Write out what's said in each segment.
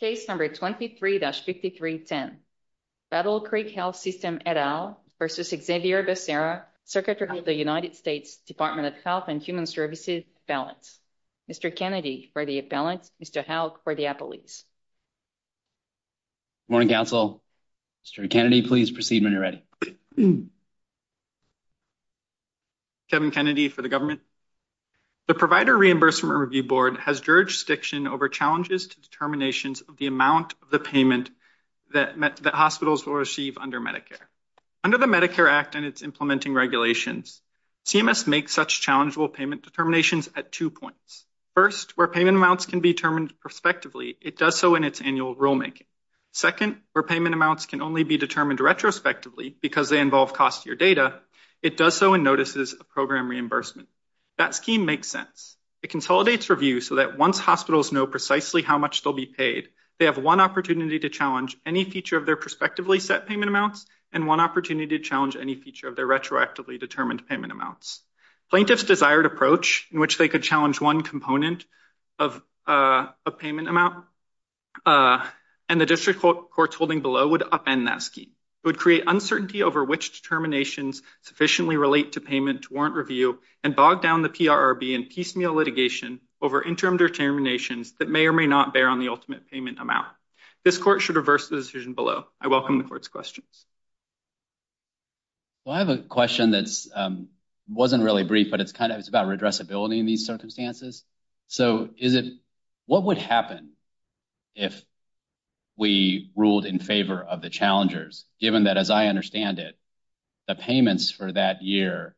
Case number 23-5310, Battle Creek Health System et al. versus Xavier Becerra, Secretary of the United States Department of Health and Human Services, appellants. Mr. Kennedy for the appellants, Mr. Houck for the appellees. Good morning, Council. Mr. Kennedy, please proceed when you're ready. Kevin Kennedy for the government. The Provider Reimbursement Review Board has jurisdiction over challenges to determinations of the amount of the payment that hospitals will receive under Medicare. Under the Medicare Act and its implementing regulations, CMS makes such challengeable payment determinations at two points. First, where payment amounts can be determined prospectively, it does so in its annual rulemaking. Second, where payment amounts can only be determined retrospectively because they involve costier data, it does so in notices of program reimbursement. That scheme makes sense. It consolidates review so that once hospitals know precisely how much they'll be paid, they have one opportunity to challenge any feature of their prospectively set payment amounts and one opportunity to challenge any feature of their retroactively determined payment amounts. Plaintiffs' desired approach in which they could challenge one component of a payment amount and the district court's holding below would upend that scheme. It would create uncertainty over which determinations sufficiently relate to warrant review and bog down the PRRB in piecemeal litigation over interim determinations that may or may not bear on the ultimate payment amount. This court should reverse the decision below. I welcome the court's questions. Well, I have a question that's, um, wasn't really brief, but it's kind of, it's about redressability in these circumstances. So is it, what would happen if we ruled in favor of the challengers, given that, as I understand it, the payments for that year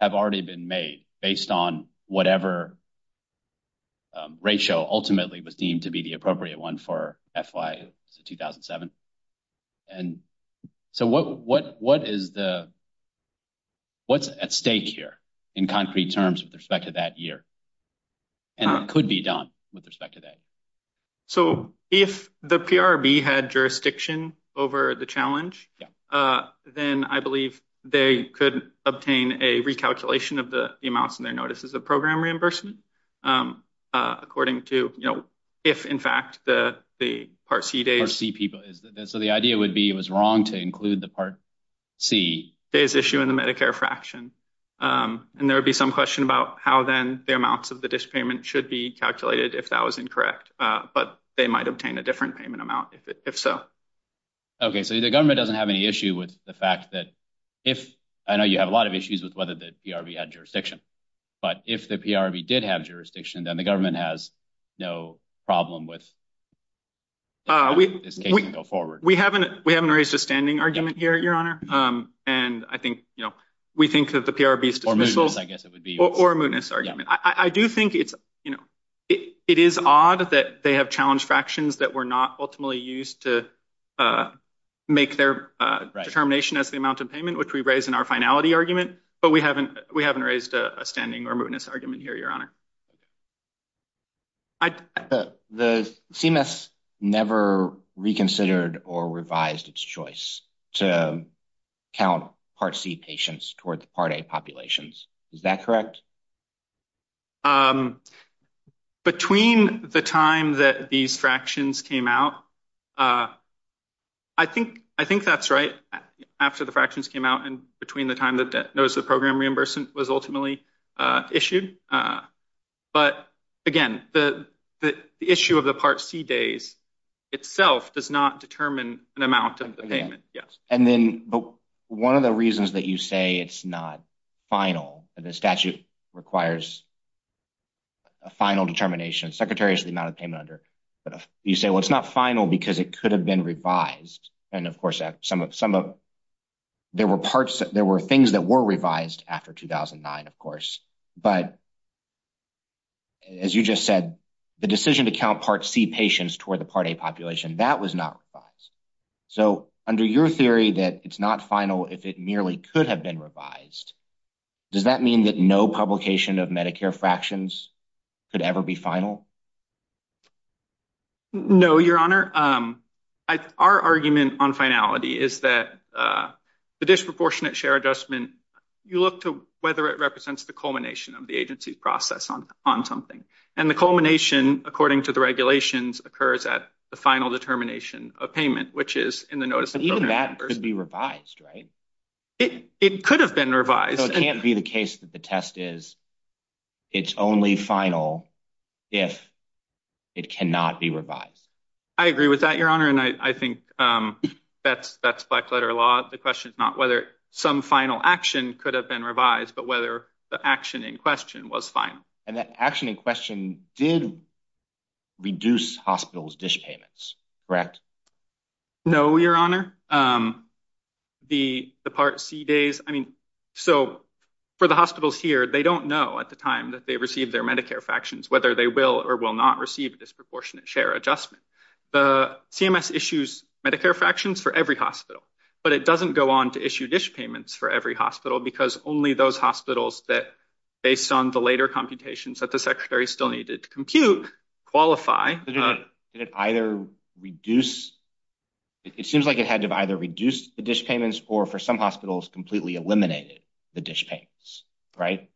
have already been made based on whatever ratio ultimately was deemed to be the appropriate one for FY 2007? And so what, what, what is the, what's at stake here in concrete terms with respect to that year? And it could be done with respect to that. So if the PRRB had jurisdiction over the challenge, uh, then I believe they could obtain a recalculation of the amounts and their notices of program reimbursement. Um, uh, according to, you know, if in fact the, the Part C days, so the idea would be, it was wrong to include the Part C days issue in the Medicare fraction. Um, and there would be some question about how then the amounts of the district payment should be calculated if that was incorrect. Uh, but they might obtain a different payment amount if it, if so. Okay. So the government doesn't have any issue with the fact that if, I know you have a lot of issues with whether the PRRB had jurisdiction, but if the PRRB did have jurisdiction, then the government has no problem with, uh, we go forward. We haven't, we haven't raised a standing argument here, your honor. Um, and I think, you know, we think that the PRRB dismissal, I guess it would be, or a mootness argument. I do think it's, you know, it is odd that they have challenged fractions that were not ultimately used to, uh, make their, uh, determination as the amount of payment, which we raised in our finality argument, but we haven't, we haven't raised a standing or mootness argument here, your honor. The CMS never reconsidered or revised its choice to count Part C patients toward the Part A populations. Is that correct? Um, between the time that these fractions came out, uh, I think, I think that's right after the fractions came out and between the time that notice of program reimbursement was ultimately, uh, issued. Uh, but again, the, the issue of the Part C days itself does not determine an amount of the payment. Yes. And then, but one of the reasons that you say it's not final, the statute requires a final determination, secretaries, the amount of payment under, but you say, well, it's not final because it could have been revised. And of course, some of, some of there were parts, there were things that were revised after 2009, of course, but as you just said, the decision to count Part C patients toward the Part A population, that was not revised. So under your theory that it's not final, if it merely could have been revised, does that mean that no publication of Medicare fractions could ever be final? No, your honor. Um, I, our argument on finality is that, uh, the disproportionate share adjustment, you look to whether it represents the culmination of the agency's process on, on something. And the culmination, according to the regulations, occurs at the final determination of payment, which is in the notice. But even that could be revised, right? It, it could have been revised. So it can't be the case that the test is it's only final if it cannot be revised. I agree with that, your honor. And I, I think, um, that's, that's black letter law. The question is not whether some final action could have been revised, but whether the action in question was final. And that action in question did reduce hospitals' dish payments, correct? No, your honor. Um, the, the Part C days, I mean, so for the hospitals here, they don't know at the time that they received their Medicare fractions, whether they will or will not receive a disproportionate share adjustment. The CMS issues Medicare fractions for every hospital, but it doesn't go on to issue dish payments for every hospital because only those hospitals that, based on the later computations that the secretary still needed to compute, qualify. Did it either reduce, it seems like it had to either reduce the dish payments or for some hospitals completely eliminated the dish payments, right?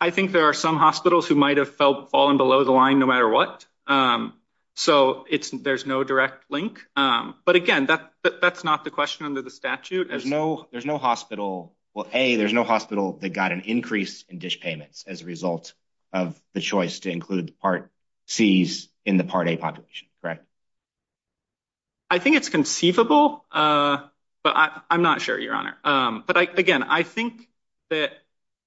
I think there are some hospitals who might have felt fallen below the line no matter what. Um, so it's, there's no direct link. Um, but again, that, that, that's not the question under the statute. There's no, there's no hospital, well, A, there's no hospital that got an increase in dish payments as a result of the choice to include the Part Cs in the Part A population, correct? I think it's conceivable, uh, but I, I'm not sure, your honor. Um, but I, again, I think that,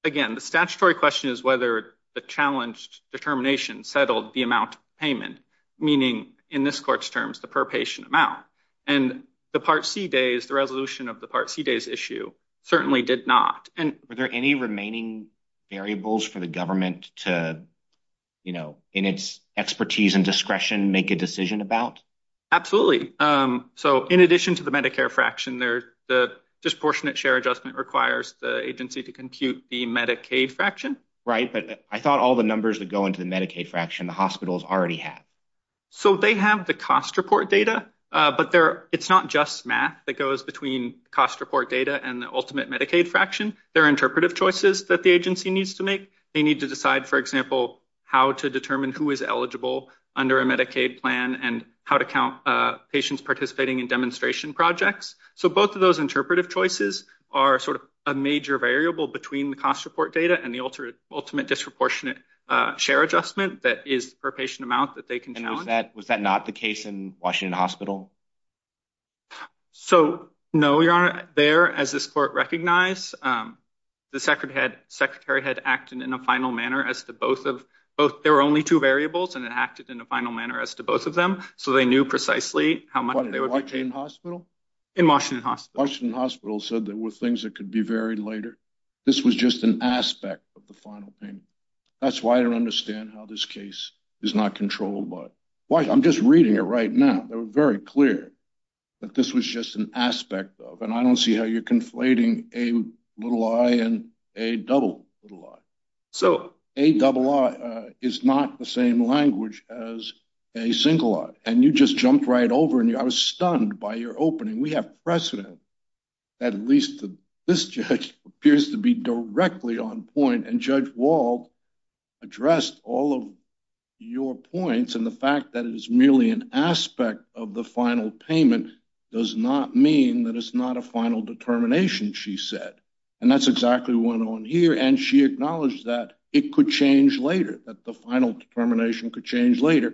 again, the statutory question is whether the challenged determination settled the amount payment, meaning in this court's terms, the per patient amount. And the Part C days, the resolution of the Part C days issue certainly did not. And were there any remaining variables for the government to, you know, in its expertise and discretion, make a decision about? Absolutely. Um, so in addition to the Medicare fraction there, the disproportionate share adjustment requires the agency to compute the Medicaid fraction. Right. But I thought all the numbers that go into the Medicaid fraction, the hospitals already have. So they have the cost report data. Uh, but there, it's not just math that goes between cost report data and the ultimate Medicaid fraction. There are interpretive choices that the agency needs to make. They need to decide, for example, how to determine who is eligible under a Medicaid plan and how to count, uh, patients participating in demonstration projects. So both of those interpretive choices are sort of a major variable between the cost report data and the ultimate, ultimate disproportionate, uh, share adjustment that is the per patient amount that they can was that not the case in Washington Hospital? So no, you're on there as this court recognized. Um, the secretary had secretary had acted in a final manner as to both of both. There were only two variables, and it acted in a final manner as to both of them. So they knew precisely how much they were in hospital in Washington Hospital Hospital said there were things that could be very later. This was just an aspect of the final payment. That's why I don't understand how this case is not controlled by why I'm just reading it right now. They were very clear that this was just an aspect of and I don't see how you're conflating a little lie and a double little lot. So a double is not the same language as a single lot, and you just jumped right over, and I was stunned by your opening. We have precedent. At least this judge appears to be directly on point, and Judge Wall addressed all of your points. And the fact that it is merely an aspect of the final payment does not mean that it's not a final determination, she said, and that's exactly one on here. And she acknowledged that it could change later that the final determination could change later,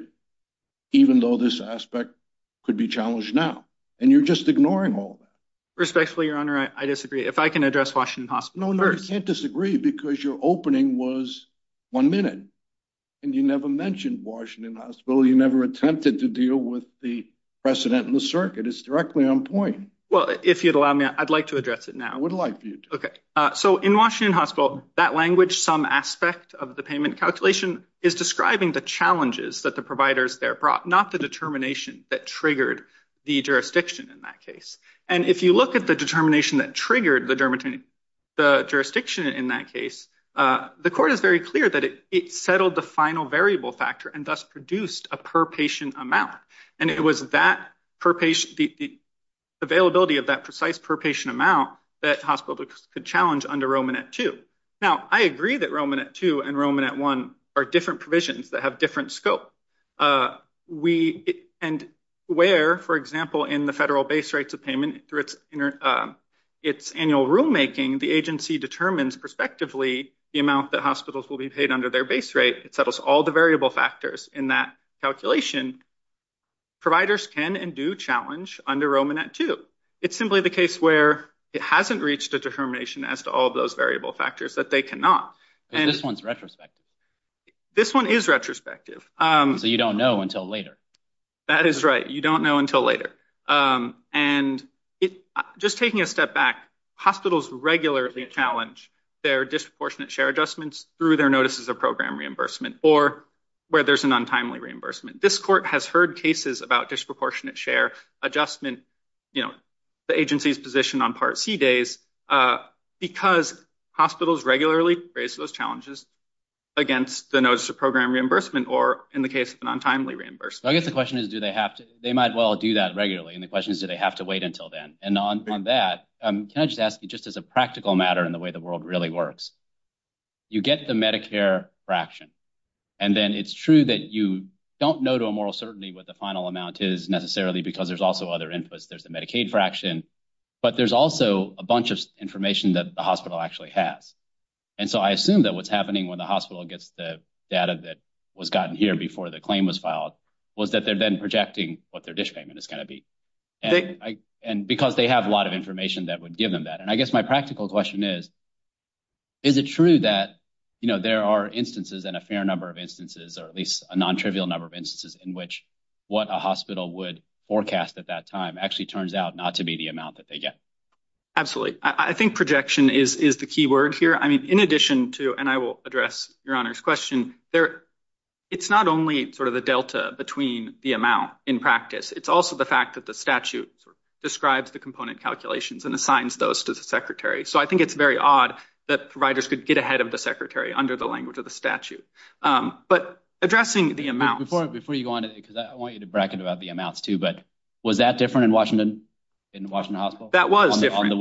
even though this aspect could be challenged now, and you're just ignoring all that respectfully, Your Honor. I disagree. If I can address Washington Hospital first. No, no, you can't disagree because your opening was one minute, and you never mentioned Washington Hospital. You never attempted to deal with the precedent in the circuit. It's directly on point. Well, if you'd allow me, I'd like to address it now. I would like for you to. Okay. So in Washington Hospital, that language, some aspect of the payment calculation, is describing the challenges that the providers there brought, not the determination that triggered the jurisdiction in that case. And if you look at the determination that triggered the jurisdiction in that case, the court is very clear that it settled the final variable factor and thus produced a per patient amount. And it was the availability of that precise per patient amount that hospitals could challenge under Romanet 2. Now, I agree that Romanet 2 and Romanet 1 are different provisions that have different scope. And where, for example, in the federal base rates of payment through its annual rulemaking, the agency determines prospectively the amount that hospitals will be paid under their base rate. It settles all the variable factors in that calculation. Providers can and do challenge under Romanet 2. It's simply the case where it hasn't reached a determination as to all of those variable factors that they cannot. This one's retrospective. This one is retrospective. So you don't know until later. That is right. You don't know until later. And just taking a step back, hospitals regularly challenge their disproportionate share adjustments through their notices of program reimbursement or where there's an untimely reimbursement. This court has heard cases about disproportionate share adjustment, the agency's position on Part C days, because hospitals regularly raise those challenges against the notice of program reimbursement or in the case of an untimely reimbursement. I guess the question is, do they have to? They might well do that regularly. And the question is, do they have to wait until then? And on that, can I just ask you, just as a practical matter in the way the world really works, you get the Medicare fraction. And then it's true that you don't know to a moral certainty what the final amount is necessarily because there's also other inputs. There's the Medicaid fraction, but there's also a bunch of information that the hospital actually has. And so I assume that what's happening when the hospital gets the that was gotten here before the claim was filed was that they've been projecting what their dish payment is going to be. And because they have a lot of information that would give them that. And I guess my practical question is, is it true that there are instances and a fair number of instances or at least a non-trivial number of instances in which what a hospital would forecast at that time actually turns out not to be the amount that they get? Absolutely. I think projection is the key word here. I mean, in addition to, and I will address your honor's question there, it's not only sort of the delta between the amount in practice. It's also the fact that the statute describes the component calculations and assigns those to the secretary. So I think it's very odd that providers could get ahead of the secretary under the language of the statute. But addressing the amount... Before you go on, because I want you to bracket about the amounts too, but was that different in Washington, in Washington hospital? That was different.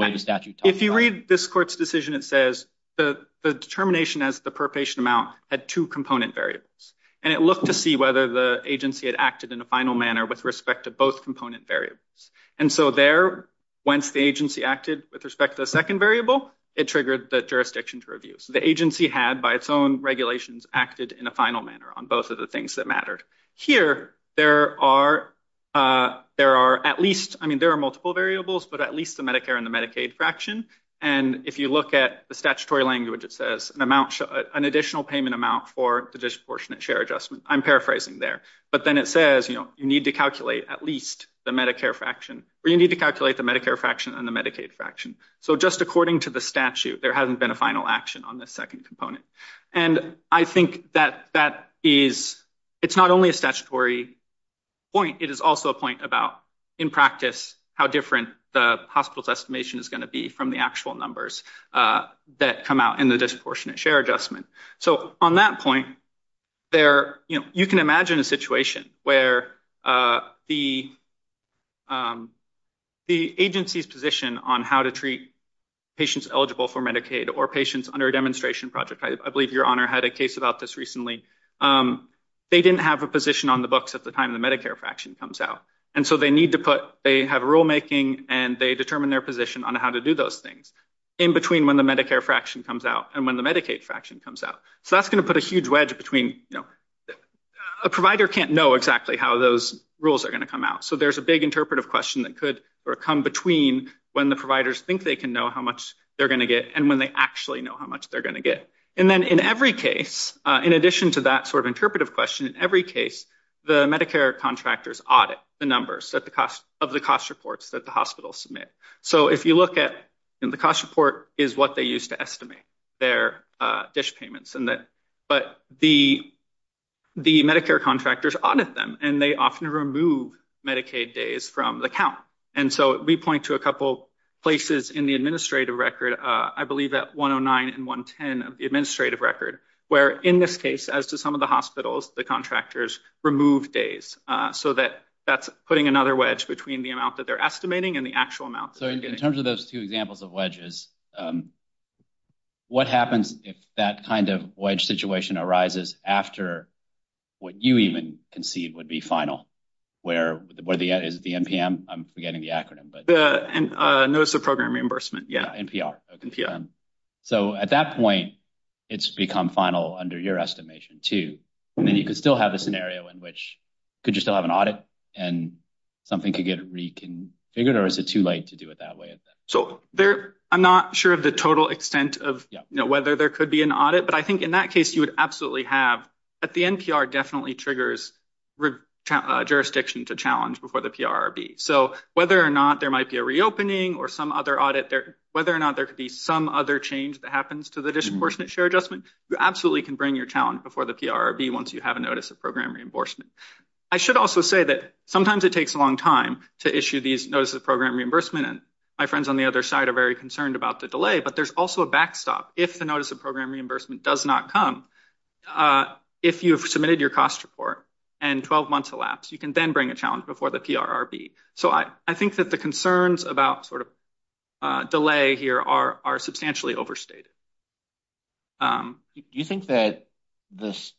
If you read this court's decision, it says the determination as the per patient amount had two component variables. And it looked to see whether the agency had acted in a final manner with respect to both component variables. And so there, once the agency acted with respect to the second variable, it triggered the jurisdiction to review. So the agency had, by its own regulations, acted in a final manner on both of the things that mattered. Here, there are at least, I mean, there are multiple variables, but at least the Medicare and the Medicaid fraction. And if you look at the statutory language, it says an additional payment amount for the disproportionate share adjustment. I'm paraphrasing there. But then it says, you need to calculate at least the Medicare fraction, or you need to calculate the Medicare fraction and the Medicaid fraction. So just according to the statute, there hasn't been a final action on the second component. And I think that that is, it's not only a statutory point, it is also a point about, in practice, how different the hospital's estimation is going to be from the actual numbers that come out in the disproportionate share adjustment. So on that point, there, you know, you can imagine a situation where the agency's position on how to treat patients eligible for Medicaid or patients under a demonstration project, I believe Your Honor had a case about this recently, they didn't have a position on the books at the time the And so they need to put, they have rulemaking and they determine their position on how to do those things in between when the Medicare fraction comes out and when the Medicaid fraction comes out. So that's going to put a huge wedge between, you know, a provider can't know exactly how those rules are going to come out. So there's a big interpretive question that could come between when the providers think they can know how much they're going to get and when they actually know how much they're going to get. And then in every case, in addition to that sort of interpretive question, in every case, the Medicare contractors audit the numbers that the cost of the cost reports that the hospital submit. So if you look at the cost report is what they used to estimate their dish payments and that, but the Medicare contractors audit them and they often remove Medicaid days from the count. And so we point to a couple places in the administrative record, I believe at 109 and 110 of the administrative record, where in this case, as to some of the contractors remove days so that that's putting another wedge between the amount that they're estimating and the actual amount. So in terms of those two examples of wedges, what happens if that kind of wedge situation arises after what you even concede would be final, where, where the, is it the NPM? I'm forgetting the acronym. Notice of Program Reimbursement. Yeah. NPR. So at that point, it's become final under your estimation too. I mean, you could still have a scenario in which could you still have an audit and something could get reconfigured or is it too late to do it that way? So there, I'm not sure of the total extent of whether there could be an audit, but I think in that case you would absolutely have at the NPR definitely triggers jurisdiction to challenge before the PRRB. So whether or not there might be a reopening or some other audit there, whether or not there could be some other change that happens to the disproportionate share adjustment, you absolutely can bring your challenge before the PRRB once you have a Notice of Program Reimbursement. I should also say that sometimes it takes a long time to issue these Notices of Program Reimbursement and my friends on the other side are very concerned about the delay, but there's also a backstop. If the Notice of Program Reimbursement does not come, if you have submitted your cost report and 12 months elapsed, you can then bring a challenge before the PRRB. So I, I here are, are substantially overstated. Do you think that this,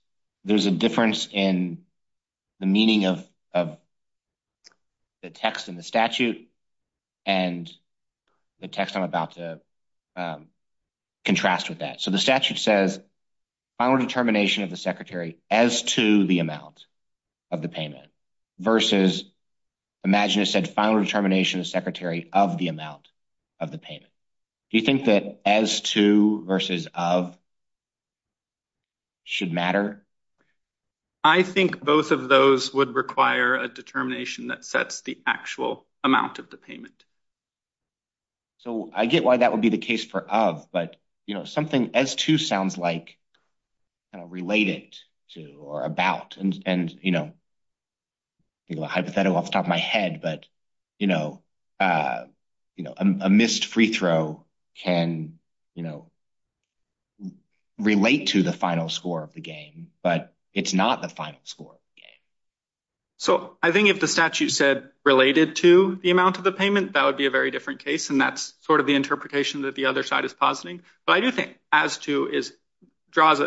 there's a difference in the meaning of, of the text in the statute and the text I'm about to contrast with that? So the statute says final determination of the Secretary as to the amount of the payment versus imagine said final determination of Secretary of the amount of the payment. Do you think that as to versus of should matter? I think both of those would require a determination that sets the actual amount of the payment. So I get why that would be the case for of, but you know, something as to sounds like kind of related to or about, and, and, you know, hypothetical off the top of my head, but, you know, you know, a missed free throw can, you know, relate to the final score of the game, but it's not the final score of the game. So I think if the statute said related to the amount of the payment, that would be a very different case. And that's sort of the interpretation that the other side is positing. But I do think as to is draws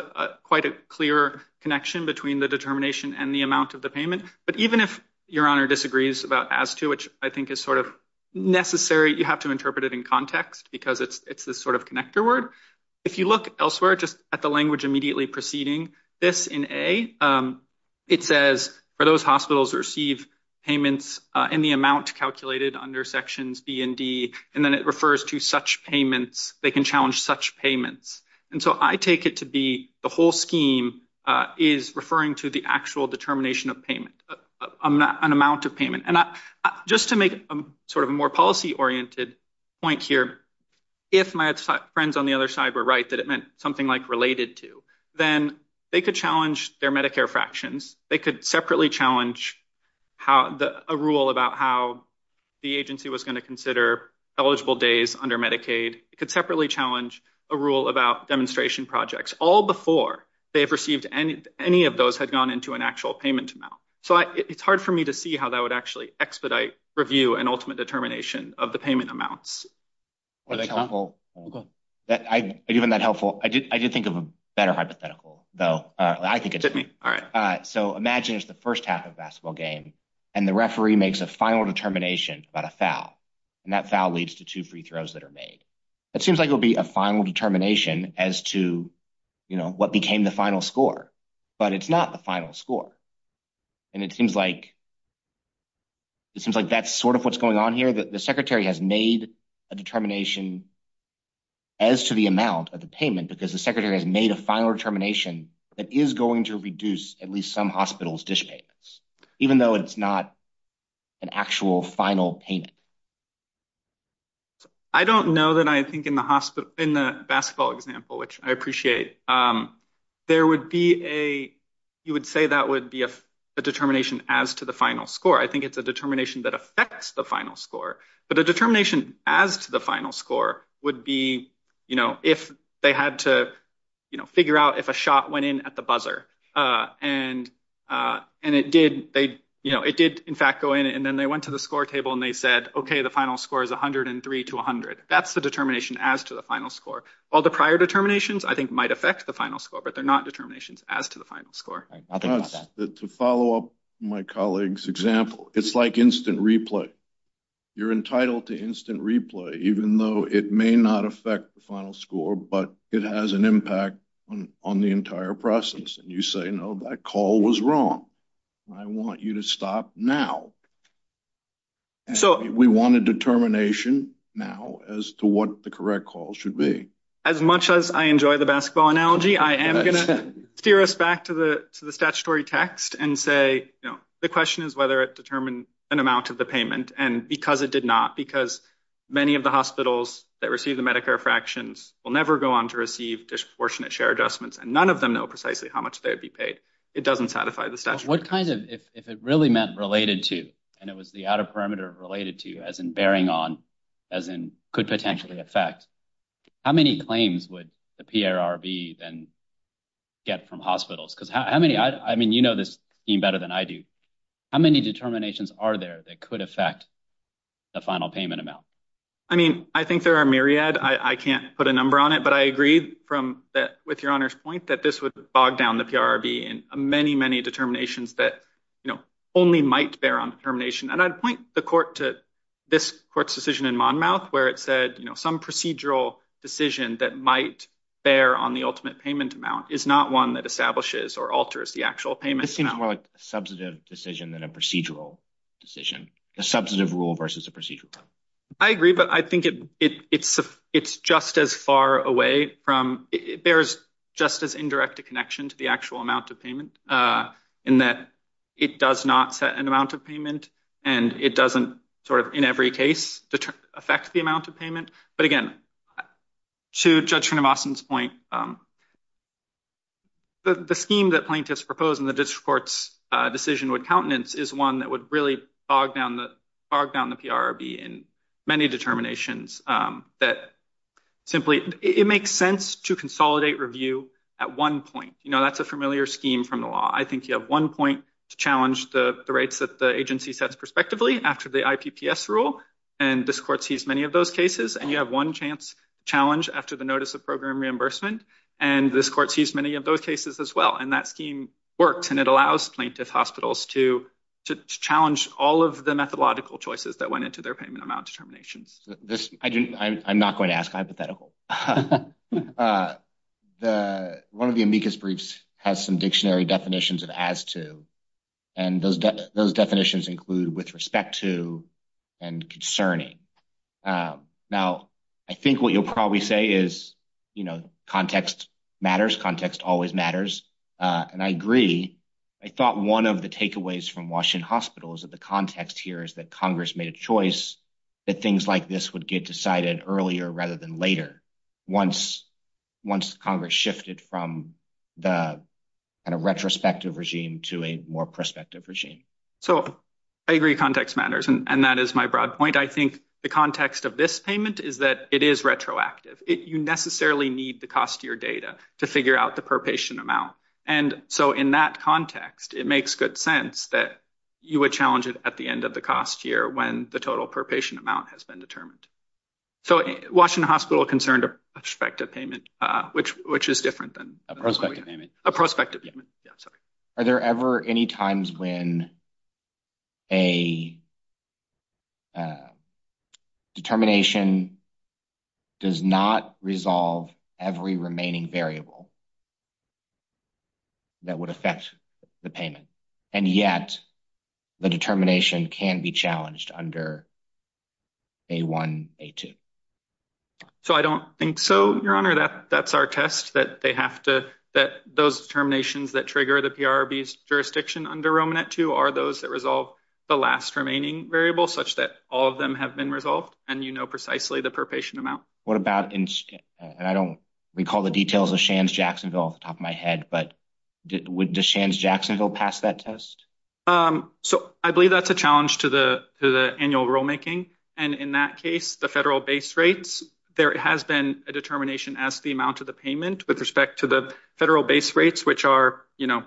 quite a clear connection between the determination and the amount of the payment. But even if your honor disagrees about as to, which I think is sort of necessary, you have to interpret it in context because it's, it's this sort of connector word. If you look elsewhere, just at the language immediately preceding this in A, it says for those hospitals receive payments in the amount calculated under sections B and D, and then it refers to such payments, they can challenge such payments. And so I take it to be the whole scheme is referring to the actual determination of payment, an amount of payment. And just to make a sort of a more policy oriented point here, if my friends on the other side were right, that it meant something like related to, then they could challenge their Medicare fractions. They could separately challenge how the, a rule about how the agency was going to consider eligible days under Medicaid. It could separately challenge a rule about demonstration projects, all before they have received any, any of those had gone into an actual payment amount. So I, it's hard for me to see how that would actually expedite review and ultimate determination of the payment amounts. Well, that's helpful. Even that helpful. I did, I did think of a better hypothetical, though. I think it's at me. All right. So imagine it's the first half of a basketball game and the referee makes a final determination about a foul and that foul leads to two free throws that are made. It seems like it'll be a final determination as to, you know, what became the final score, but it's not the final score. And it seems like, it seems like that's sort of what's going on here, that the secretary has made a determination as to the amount of the payment, because the secretary has made a final determination that is going to reduce at least some hospitals dish payments, even though it's not an actual final payment. I don't know that I think in the hospital, in the basketball example, which I appreciate, there would be a, you would say that would be a determination as to the final score. I think it's a determination that affects the final score, but a determination as to the final score would be, you know, if they had to, you know, figure out if a shot went in at the buzzer and it did, they, you know, it did in fact go in and then they went to the score table and they said, okay, the final score is 103 to 100. That's the determination as to the final score. All the prior determinations I think might affect the final score, but they're not determinations as to the final score. To follow up my colleague's example, it's like instant replay. You're it may not affect the final score, but it has an impact on the entire process. And you say, no, that call was wrong. I want you to stop now. So we want a determination now as to what the correct call should be. As much as I enjoy the basketball analogy, I am going to steer us back to the, to the statutory text and say, you know, the question is whether it determined an amount of the payment and because it did not, because many of the hospitals that receive the Medicare fractions will never go on to receive disproportionate share adjustments. And none of them know precisely how much they would be paid. It doesn't satisfy the statute. What kinds of, if it really meant related to, and it was the outer perimeter related to as in bearing on as in could potentially affect how many claims would the PRRB then get from hospitals? Because how many, I mean, you know, this team better than I do. How many determinations are there that could affect the final payment amount? I mean, I think there are myriad, I can't put a number on it, but I agree from that with your honor's point that this would bog down the PRRB and many, many determinations that, you know, only might bear on determination. And I'd point the court to this court's decision in Monmouth, where it said, you know, some procedural decision that might bear on the ultimate payment amount is not one that establishes or alters the actual payment. This seems more like a substantive decision than a procedural decision, a substantive rule versus a procedural. I agree, but I think it's just as far away from, it bears just as indirect a connection to the actual amount of payment in that it does not set an amount of payment and it doesn't sort of in every case affect the amount of payment. But again, to Judge Trinivasan's point, the scheme that plaintiffs propose in the district court's decision with countenance is one that would really bog down the PRRB in many determinations that simply, it makes sense to consolidate review at one point. You know, that's a familiar scheme from the law. I think you have one point to challenge the rates that the agency sets prospectively after the IPPS rule, and this court sees many of those cases, and you have one chance challenge after the notice of program reimbursement, and this court sees many of those cases as well. And that scheme works and it allows plaintiff hospitals to challenge all of the methodological choices that went into their payment amount determinations. I'm not going to ask hypothetical. One of the amicus briefs has some dictionary definitions of as to, and those definitions include with respect to and concerning. Now, I think what you'll probably say is, you know, context matters. Context always matters. And I agree. I thought one of the takeaways from Washington Hospital is that the context here is that Congress made a choice that things like this would get decided earlier rather than later. Once Congress shifted from the kind of retrospective regime to a more prospective regime. So, I agree context matters, and that is my broad point. I think the context of this payment is that it is retroactive. You necessarily need the cost of your data to figure out the per patient amount. And so, in that context, it makes good sense that you would challenge it at the end of the cost year when the total per patient amount has been determined. So, Washington Hospital concerned a prospective payment, which is different than... A prospective payment. A prospective payment. Yeah, sorry. Are there ever any times when a determination does not resolve every remaining variable that would affect the payment, and yet the determination can be challenged under A1, A2? So, I don't think so, Your Honor. That's our test, that they have to... that those determinations that trigger the PRRB's jurisdiction under Romanet 2 are those that resolve the last remaining variable, such that all of them have been resolved, and you know precisely the per patient amount. What about, and I don't recall the details of Shands-Jacksonville off the top of my head, but would Shands-Jacksonville pass that test? So, I believe that's a challenge to the annual rulemaking, and in that case, the federal base rates, there has been a determination as the amount of the payment with respect to the federal base rates, which are, you know,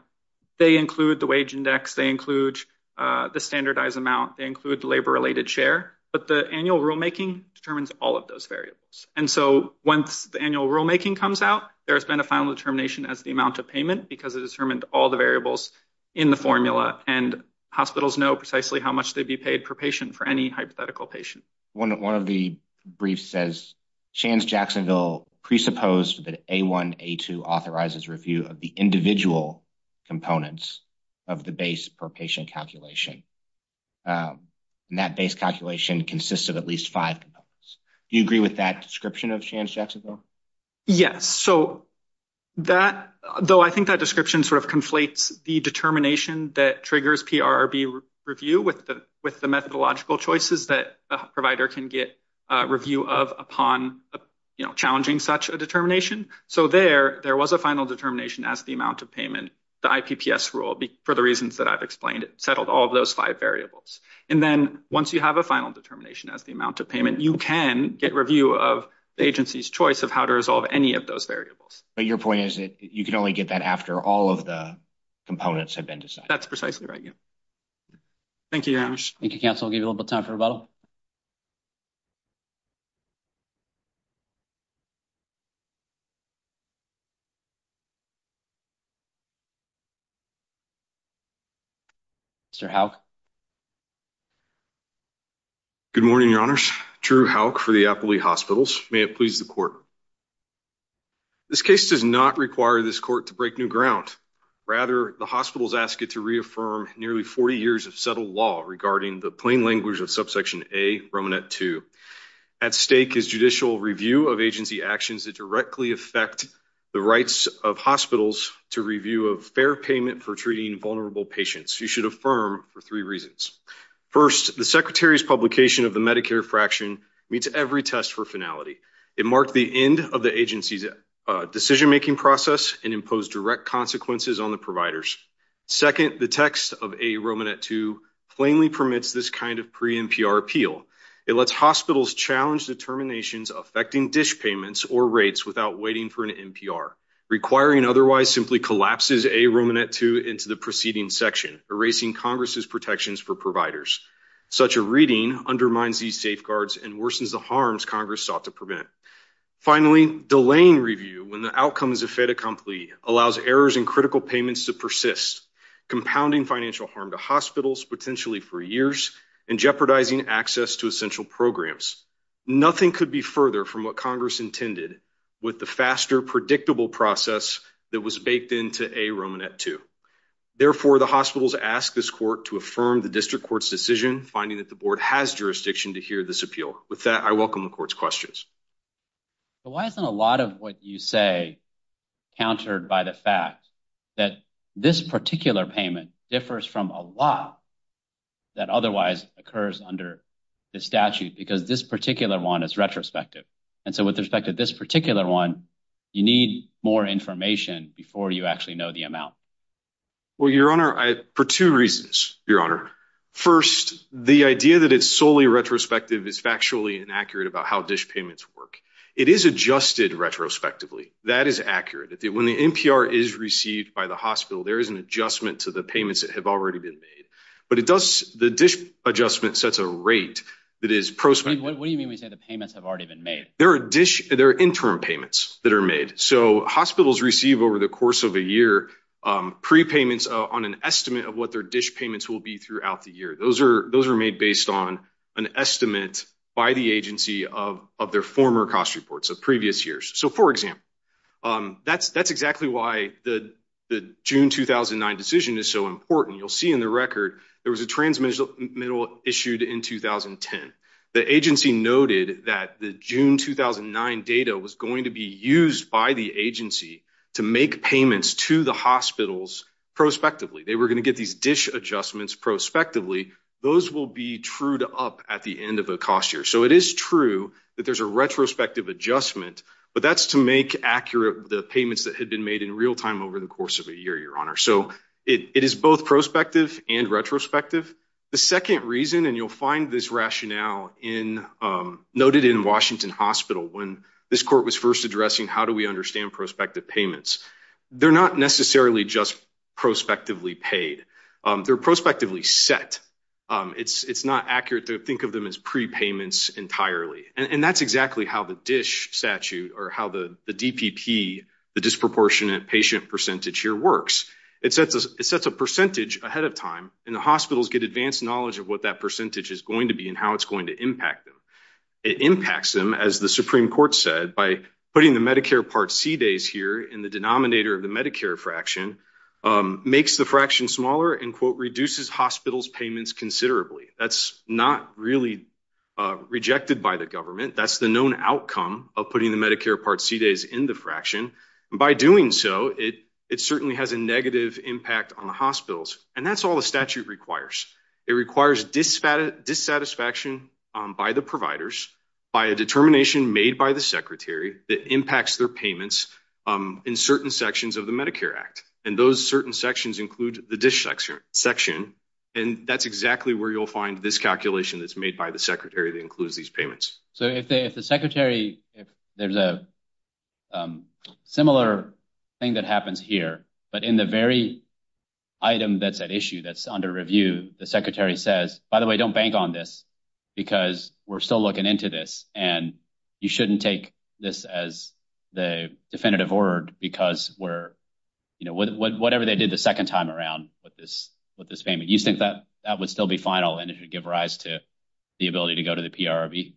they include the wage index, they include the standardized amount, they include labor-related share, but the annual rulemaking determines all of those variables. And so, once the annual rulemaking comes out, there's been a final determination as the amount of payment because it determined all the variables in the formula, and hospitals know precisely how much they'd be paid per patient for any hypothetical patient. One of the briefs says, Shands-Jacksonville presupposed that A1, A2 authorizes review of the individual components of the base per patient calculation, and that base calculation consists of at least five components. Do you agree with that description of Shands-Jacksonville? Yes. So, that, though, I think that description sort of conflates the determination that triggers PRRB review with the methodological choices that the provider can get review of upon, you know, challenging such a determination. So, there, there was a final determination as the amount of payment, the IPPS rule, for the reasons that I've explained, it settled all of those five variables. And then, once you have a final determination as the amount of payment, you can get review of the agency's choice of how to resolve any of those variables. But your point is that you can only get that after all of the components have been decided. That's precisely right, yeah. Thank you, Janusz. Thank you, counsel. I'll give you a little bit of time for rebuttal. Mr. Houck? Good morning, your honors. Drew Houck for the Appley Hospitals. May it please the court. This case does not require this court to break new ground. Rather, the hospitals ask it to affirm nearly 40 years of settled law regarding the plain language of Subsection A, Romanet 2. At stake is judicial review of agency actions that directly affect the rights of hospitals to review of fair payment for treating vulnerable patients. You should affirm for three reasons. First, the Secretary's publication of the Medicare fraction meets every test for finality. It marked the end of the agency's decision-making process and imposed direct consequences on the providers. Second, the text of A, Romanet 2 plainly permits this kind of pre-NPR appeal. It lets hospitals challenge determinations affecting dish payments or rates without waiting for an NPR. Requiring otherwise simply collapses A, Romanet 2 into the preceding section, erasing Congress's protections for providers. Such a reading undermines these safeguards and worsens the harms Congress sought to prevent. Finally, delaying review when the outcome is a fait accompli allows errors in payments to persist, compounding financial harm to hospitals, potentially for years, and jeopardizing access to essential programs. Nothing could be further from what Congress intended with the faster, predictable process that was baked into A, Romanet 2. Therefore, the hospitals ask this court to affirm the district court's decision, finding that the board has jurisdiction to hear this appeal. With that, I welcome the court's questions. But why isn't a lot of what you say countered by the fact that this particular payment differs from a lot that otherwise occurs under the statute? Because this particular one is retrospective. And so with respect to this particular one, you need more information before you actually know the amount. Well, Your Honor, for two reasons, Your Honor. First, the idea that it's solely retrospective is factually inaccurate about how dish payments work. It is adjusted retrospectively. That is accurate. When the NPR is received by the hospital, there is an adjustment to the payments that have already been made. But it does, the dish adjustment sets a rate that is prospective. What do you mean when you say the payments have already been made? There are interim payments that are made. So hospitals receive over the course of a year prepayments on an estimate of what their dish by the agency of their former cost reports of previous years. So, for example, that's exactly why the June 2009 decision is so important. You'll see in the record, there was a transmittal issued in 2010. The agency noted that the June 2009 data was going to be used by the agency to make payments to the hospitals prospectively. They were going to get these dish adjustments prospectively. Those will be true to up at the end of the cost year. So it is true that there's a retrospective adjustment, but that's to make accurate the payments that had been made in real time over the course of a year, Your Honor. So it is both prospective and retrospective. The second reason, and you'll find this rationale in noted in Washington Hospital when this court was first addressing how do we understand prospective payments? They're not necessarily just prospectively paid. They're prospectively set. It's not accurate to think of them as prepayments entirely, and that's exactly how the dish statute or how the DPP, the disproportionate patient percentage here works. It sets a percentage ahead of time, and the hospitals get advanced knowledge of what that percentage is going to be and how it's going to impact them. It impacts them, as the Supreme Court said, by putting the Medicare Part C days here in the denominator of the Medicare fraction makes the fraction smaller and quote reduces hospitals payments considerably. That's not really rejected by the government. That's the known outcome of putting the Medicare Part C days in the fraction. By doing so, it certainly has a negative impact on the hospitals, and that's all the statute requires. It requires dissatisfaction by the providers by a determination made by the Medicare Act, and those certain sections include the dish section, and that's exactly where you'll find this calculation that's made by the secretary that includes these payments. So if the secretary, there's a similar thing that happens here, but in the very item that's at issue, that's under review, the secretary says, by the way, don't bank on this because we're still looking into this and you shouldn't take this as the definitive word because we're, you know, whatever they did the second time around with this payment, you think that that would still be final and it would give rise to the ability to go to the PRRB?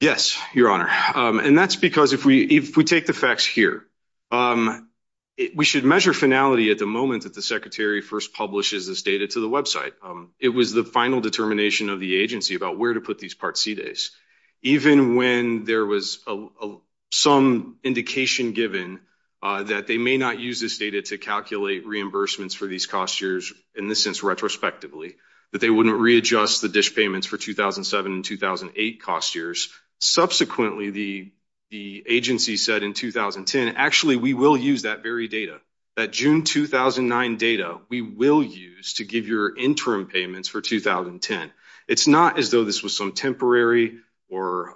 Yes, Your Honor, and that's because if we take the facts here, we should measure finality at the moment that the secretary first publishes this data to the website. It was the final determination of the agency about where to put these Part C days, even when there was some indication given that they may not use this data to calculate reimbursements for these cost years in this sense retrospectively, that they wouldn't readjust the dish payments for 2007 and 2008 cost years. Subsequently, the agency said in 2010, actually, we will use that very data, that June 2009 data we will use to give your interim payments for 2010. It's not as though this was some temporary or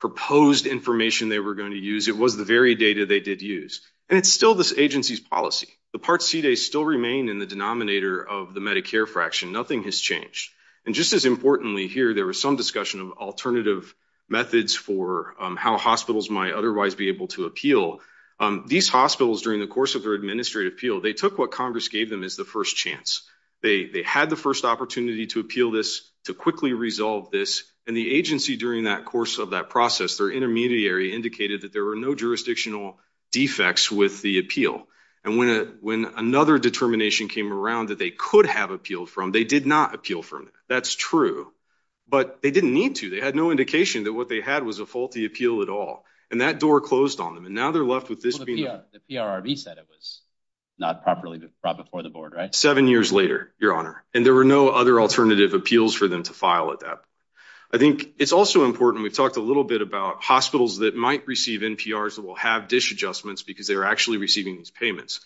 proposed information they were going to use. It was the very data they did use. And it's still this agency's policy. The Part C days still remain in the denominator of the Medicare fraction. Nothing has changed. And just as importantly here, there was some discussion of alternative methods for how hospitals might otherwise be able to appeal. These hospitals during the course of their administrative appeal, they took what Congress gave them as the first chance. They had the first opportunity to appeal to quickly resolve this. And the agency during that course of that process, their intermediary indicated that there were no jurisdictional defects with the appeal. And when another determination came around that they could have appealed from, they did not appeal from it. That's true. But they didn't need to. They had no indication that what they had was a faulty appeal at all. And that door closed on them. And now they're left with this. The PRRB said it was not properly brought before the board, right? Seven years later, Your Honor. And there were no other alternative appeals for them to file at that point. I think it's also important. We've talked a little bit about hospitals that might receive NPRs that will have dish adjustments because they are actually receiving these payments.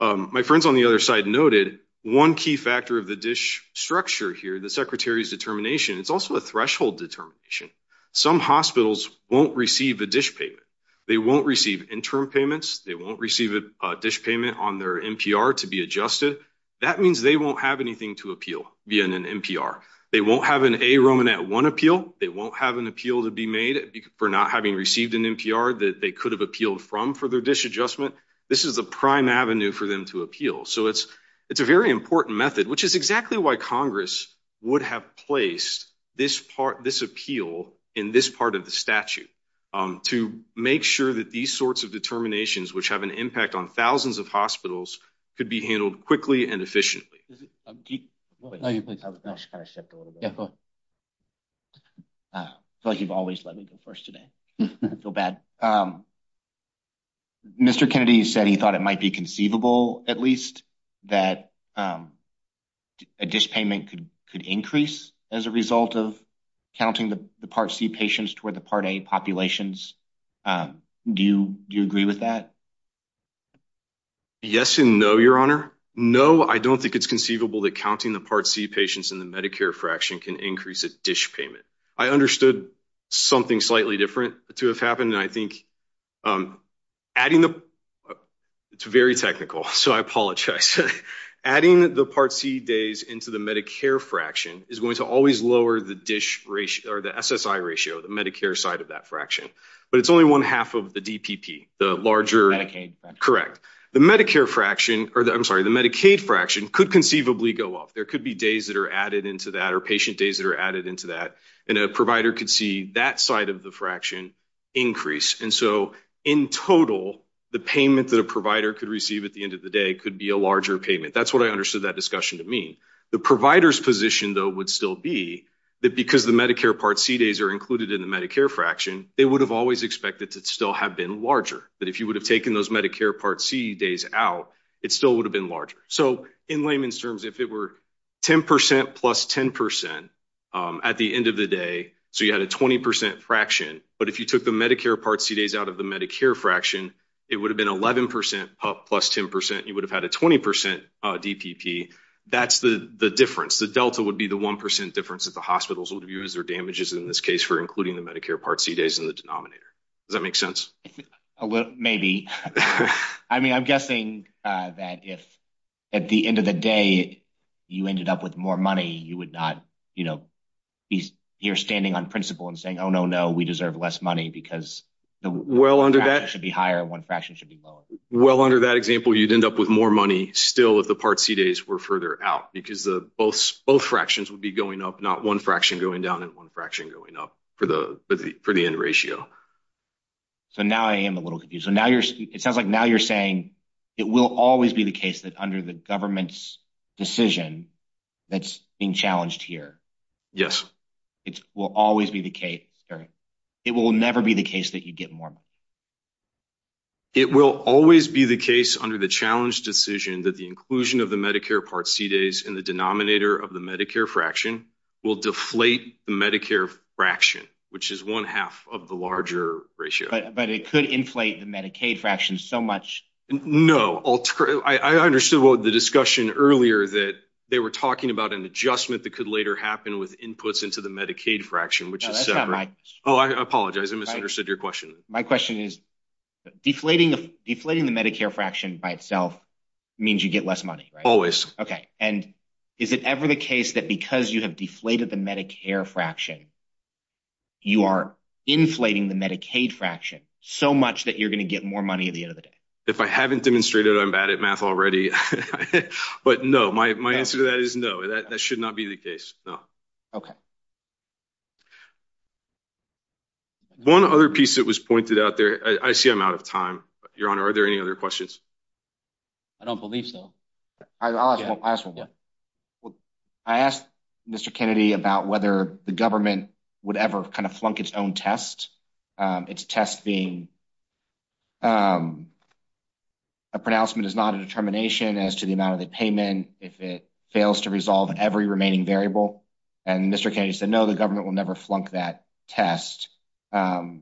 My friends on the other side noted one key factor of the dish structure here, the secretary's determination, it's also a threshold determination. Some hospitals won't receive a dish payment. They won't receive interim payments. They won't receive a dish payment on their NPR to be adjusted. That means they won't have anything to appeal via an NPR. They won't have an a Roman at one appeal. They won't have an appeal to be made for not having received an NPR that they could have appealed from for their dish adjustment. This is a prime avenue for them to appeal. So it's it's a very important method, which is exactly why Congress would have placed this part, this appeal in this part of the statute to make sure that these sorts of determinations which have an impact on thousands of hospitals could be handled quickly and efficiently. I feel like you've always let me go first today. I feel bad. Mr. Kennedy said he thought it might be conceivable at least that a dish payment could increase as a result of counting the Part C patients toward the Part A populations. Do you agree with that? Yes and no, your honor. No, I don't think it's conceivable that counting the Part C patients in the Medicare fraction can increase a dish payment. I understood something slightly different to have happened. I think adding the it's very technical, so I apologize. Adding the Part C days into the Medicare fraction is going to always lower the dish ratio or the SSI ratio, the Medicare side of that fraction, but it's only one half of the DPP, the larger Medicaid. Correct. The Medicare fraction, or the, I'm sorry, the Medicaid fraction could conceivably go off. There could be days that are added into that or patient days that are added into that and a provider could see that side of the fraction increase. And so in total, the payment that a provider could receive at the end of the day could be a larger payment. That's what I understood that discussion to mean. The provider's position though would still be that because the Medicare Part C days are included in the Medicare fraction, they would have always expected to still have been larger, that if you would have taken those Medicare Part C days out, it still would have been larger. So in layman's terms, if it were 10% plus 10% at the end of the day, so you had a 20% fraction, but if you took the Medicare Part C days out of the Medicare fraction, it would have been 11% plus 10%. You would have had a 20% DPP. That's the difference. The Delta would be the 1% difference that the hospitals would view as their damages in this case for including the Medicare Part C days in the denominator. Does that make sense? Maybe. I mean, I'm guessing that if at the end of the day, you ended up with more money, you would not be here standing on principle and saying, oh no, no, we deserve less money because the fraction should be higher and one fraction should be lower. Well, under that example, you'd end up with more money still if the Part C days were further out because both fractions would be going up, not one fraction going down and one fraction going up for the end ratio. So now I am a little confused. It sounds like now you're saying it will always be the case that under the government's decision that's being challenged here. Yes. It will never be the case that you get more money. It will always be the case under the challenge decision that the inclusion of the Medicare Part C days in the denominator of the Medicare fraction will deflate the Medicare fraction, which is one half of the larger ratio. But it could inflate the Medicaid fraction so much. No. I understood the discussion earlier that they were talking about an adjustment that could later happen with inputs into the Medicaid fraction, which is separate. That's not my question. Oh, I apologize. I misunderstood you. I'm sorry. Okay. And is it ever the case that because you have deflated the Medicare fraction, you are inflating the Medicaid fraction so much that you're going to get more money at the end of the day? If I haven't demonstrated, I'm bad at math already. But no, my answer to that is no, that should not be the case. No. Okay. One other piece that was pointed out there. I see I'm out of time. Your Honor, are there any other questions? I don't believe so. I'll ask one more. I asked Mr. Kennedy about whether the government would ever kind of flunk its own test. Its test being a pronouncement is not a determination as to the amount of the payment if it fails to resolve every remaining variable. And Mr. Kennedy said no, the government will never flunk that test. The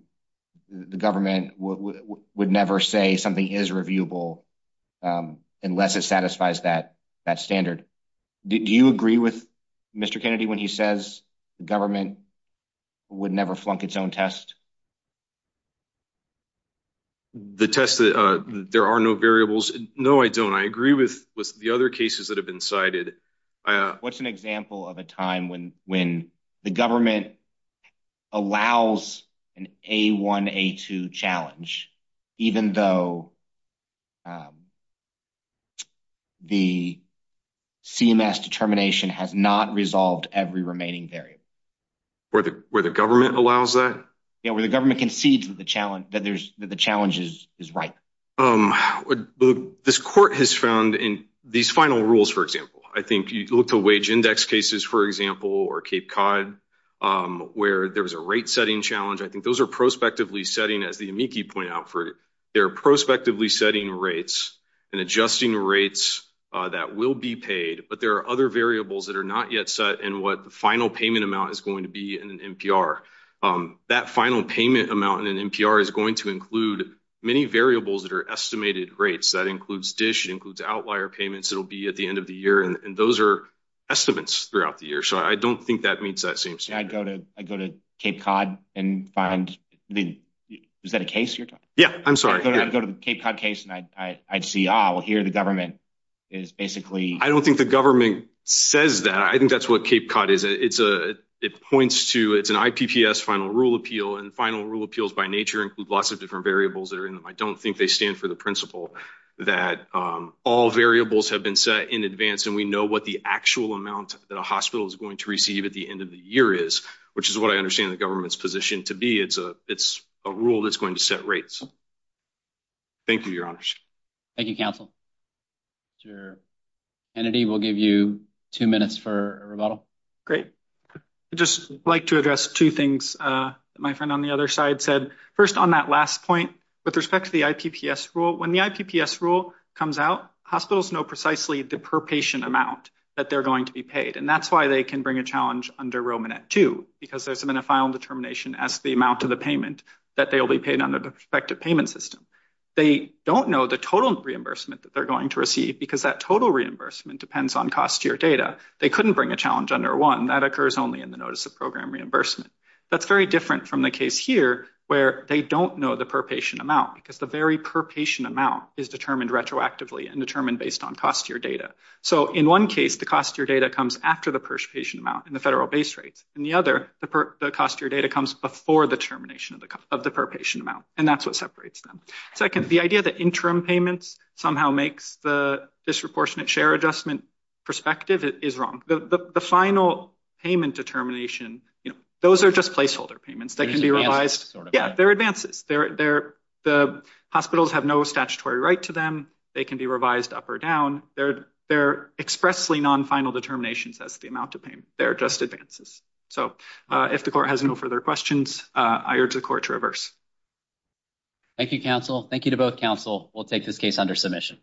government would never say something is reviewable unless it satisfies that that standard. Do you agree with Mr. Kennedy when he says the government would never flunk its own test? The test, there are no variables. No, I don't. I agree with the other cases that have been cited. What's an example of a time when the government allows an A1, A2 challenge, even though the CMS determination has not resolved every remaining variable? Where the government allows that? Yeah, where the government concedes that the challenge is right. Um, this court has found in these final rules, for example, I think you look to wage index cases, for example, or Cape Cod, where there was a rate setting challenge. I think those are prospectively setting, as the amici point out, for their prospectively setting rates and adjusting rates that will be paid. But there are other variables that are not yet set and what the final payment amount is going to be in an NPR. That final payment amount in an NPR is going to include many variables that are estimated rates. That includes dish, it includes outlier payments, it'll be at the end of the year, and those are estimates throughout the year. So I don't think that meets that same standard. I'd go to Cape Cod and find, is that a case you're talking about? Yeah, I'm sorry. I'd go to the Cape Cod case and I'd see, ah, well here the government is basically... I don't think the government says that. I think that's what Cape Cod is. It points to, it's an I don't think they stand for the principle that all variables have been set in advance and we know what the actual amount that a hospital is going to receive at the end of the year is, which is what I understand the government's position to be. It's a rule that's going to set rates. Thank you, your honors. Thank you, counsel. Mr. Kennedy, we'll give you two minutes for rebuttal. Great. I'd just like to address two things that my friend on the other side said. First, on that last point, with respect to the IPPS rule, when the IPPS rule comes out, hospitals know precisely the per patient amount that they're going to be paid. And that's why they can bring a challenge under Romanet 2, because there's been a final determination as the amount of the payment that they will be paid under the prospective payment system. They don't know the total reimbursement that they're going to receive, because that total reimbursement depends on cost year data. They couldn't bring a challenge under 1. That occurs only in the notice of program reimbursement. That's very different from the case here, where they don't know the per patient amount, because the very per patient amount is determined retroactively and determined based on cost year data. So in one case, the cost year data comes after the per patient amount in the federal base rates. In the other, the cost year data comes before the termination of the per patient amount, and that's what separates them. Second, the idea that interim payments somehow makes the disproportionate share adjustment perspective is wrong. The final payment determination, those are just placeholder payments that can be revised. Yeah, they're advances. The hospitals have no statutory right to them. They can be revised up or down. They're expressly non-final determinations as the amount of payment. They're just advances. So if the court has no further questions, I urge the court to reverse. Thank you, counsel. Thank you to both counsel. We'll take this case under submission.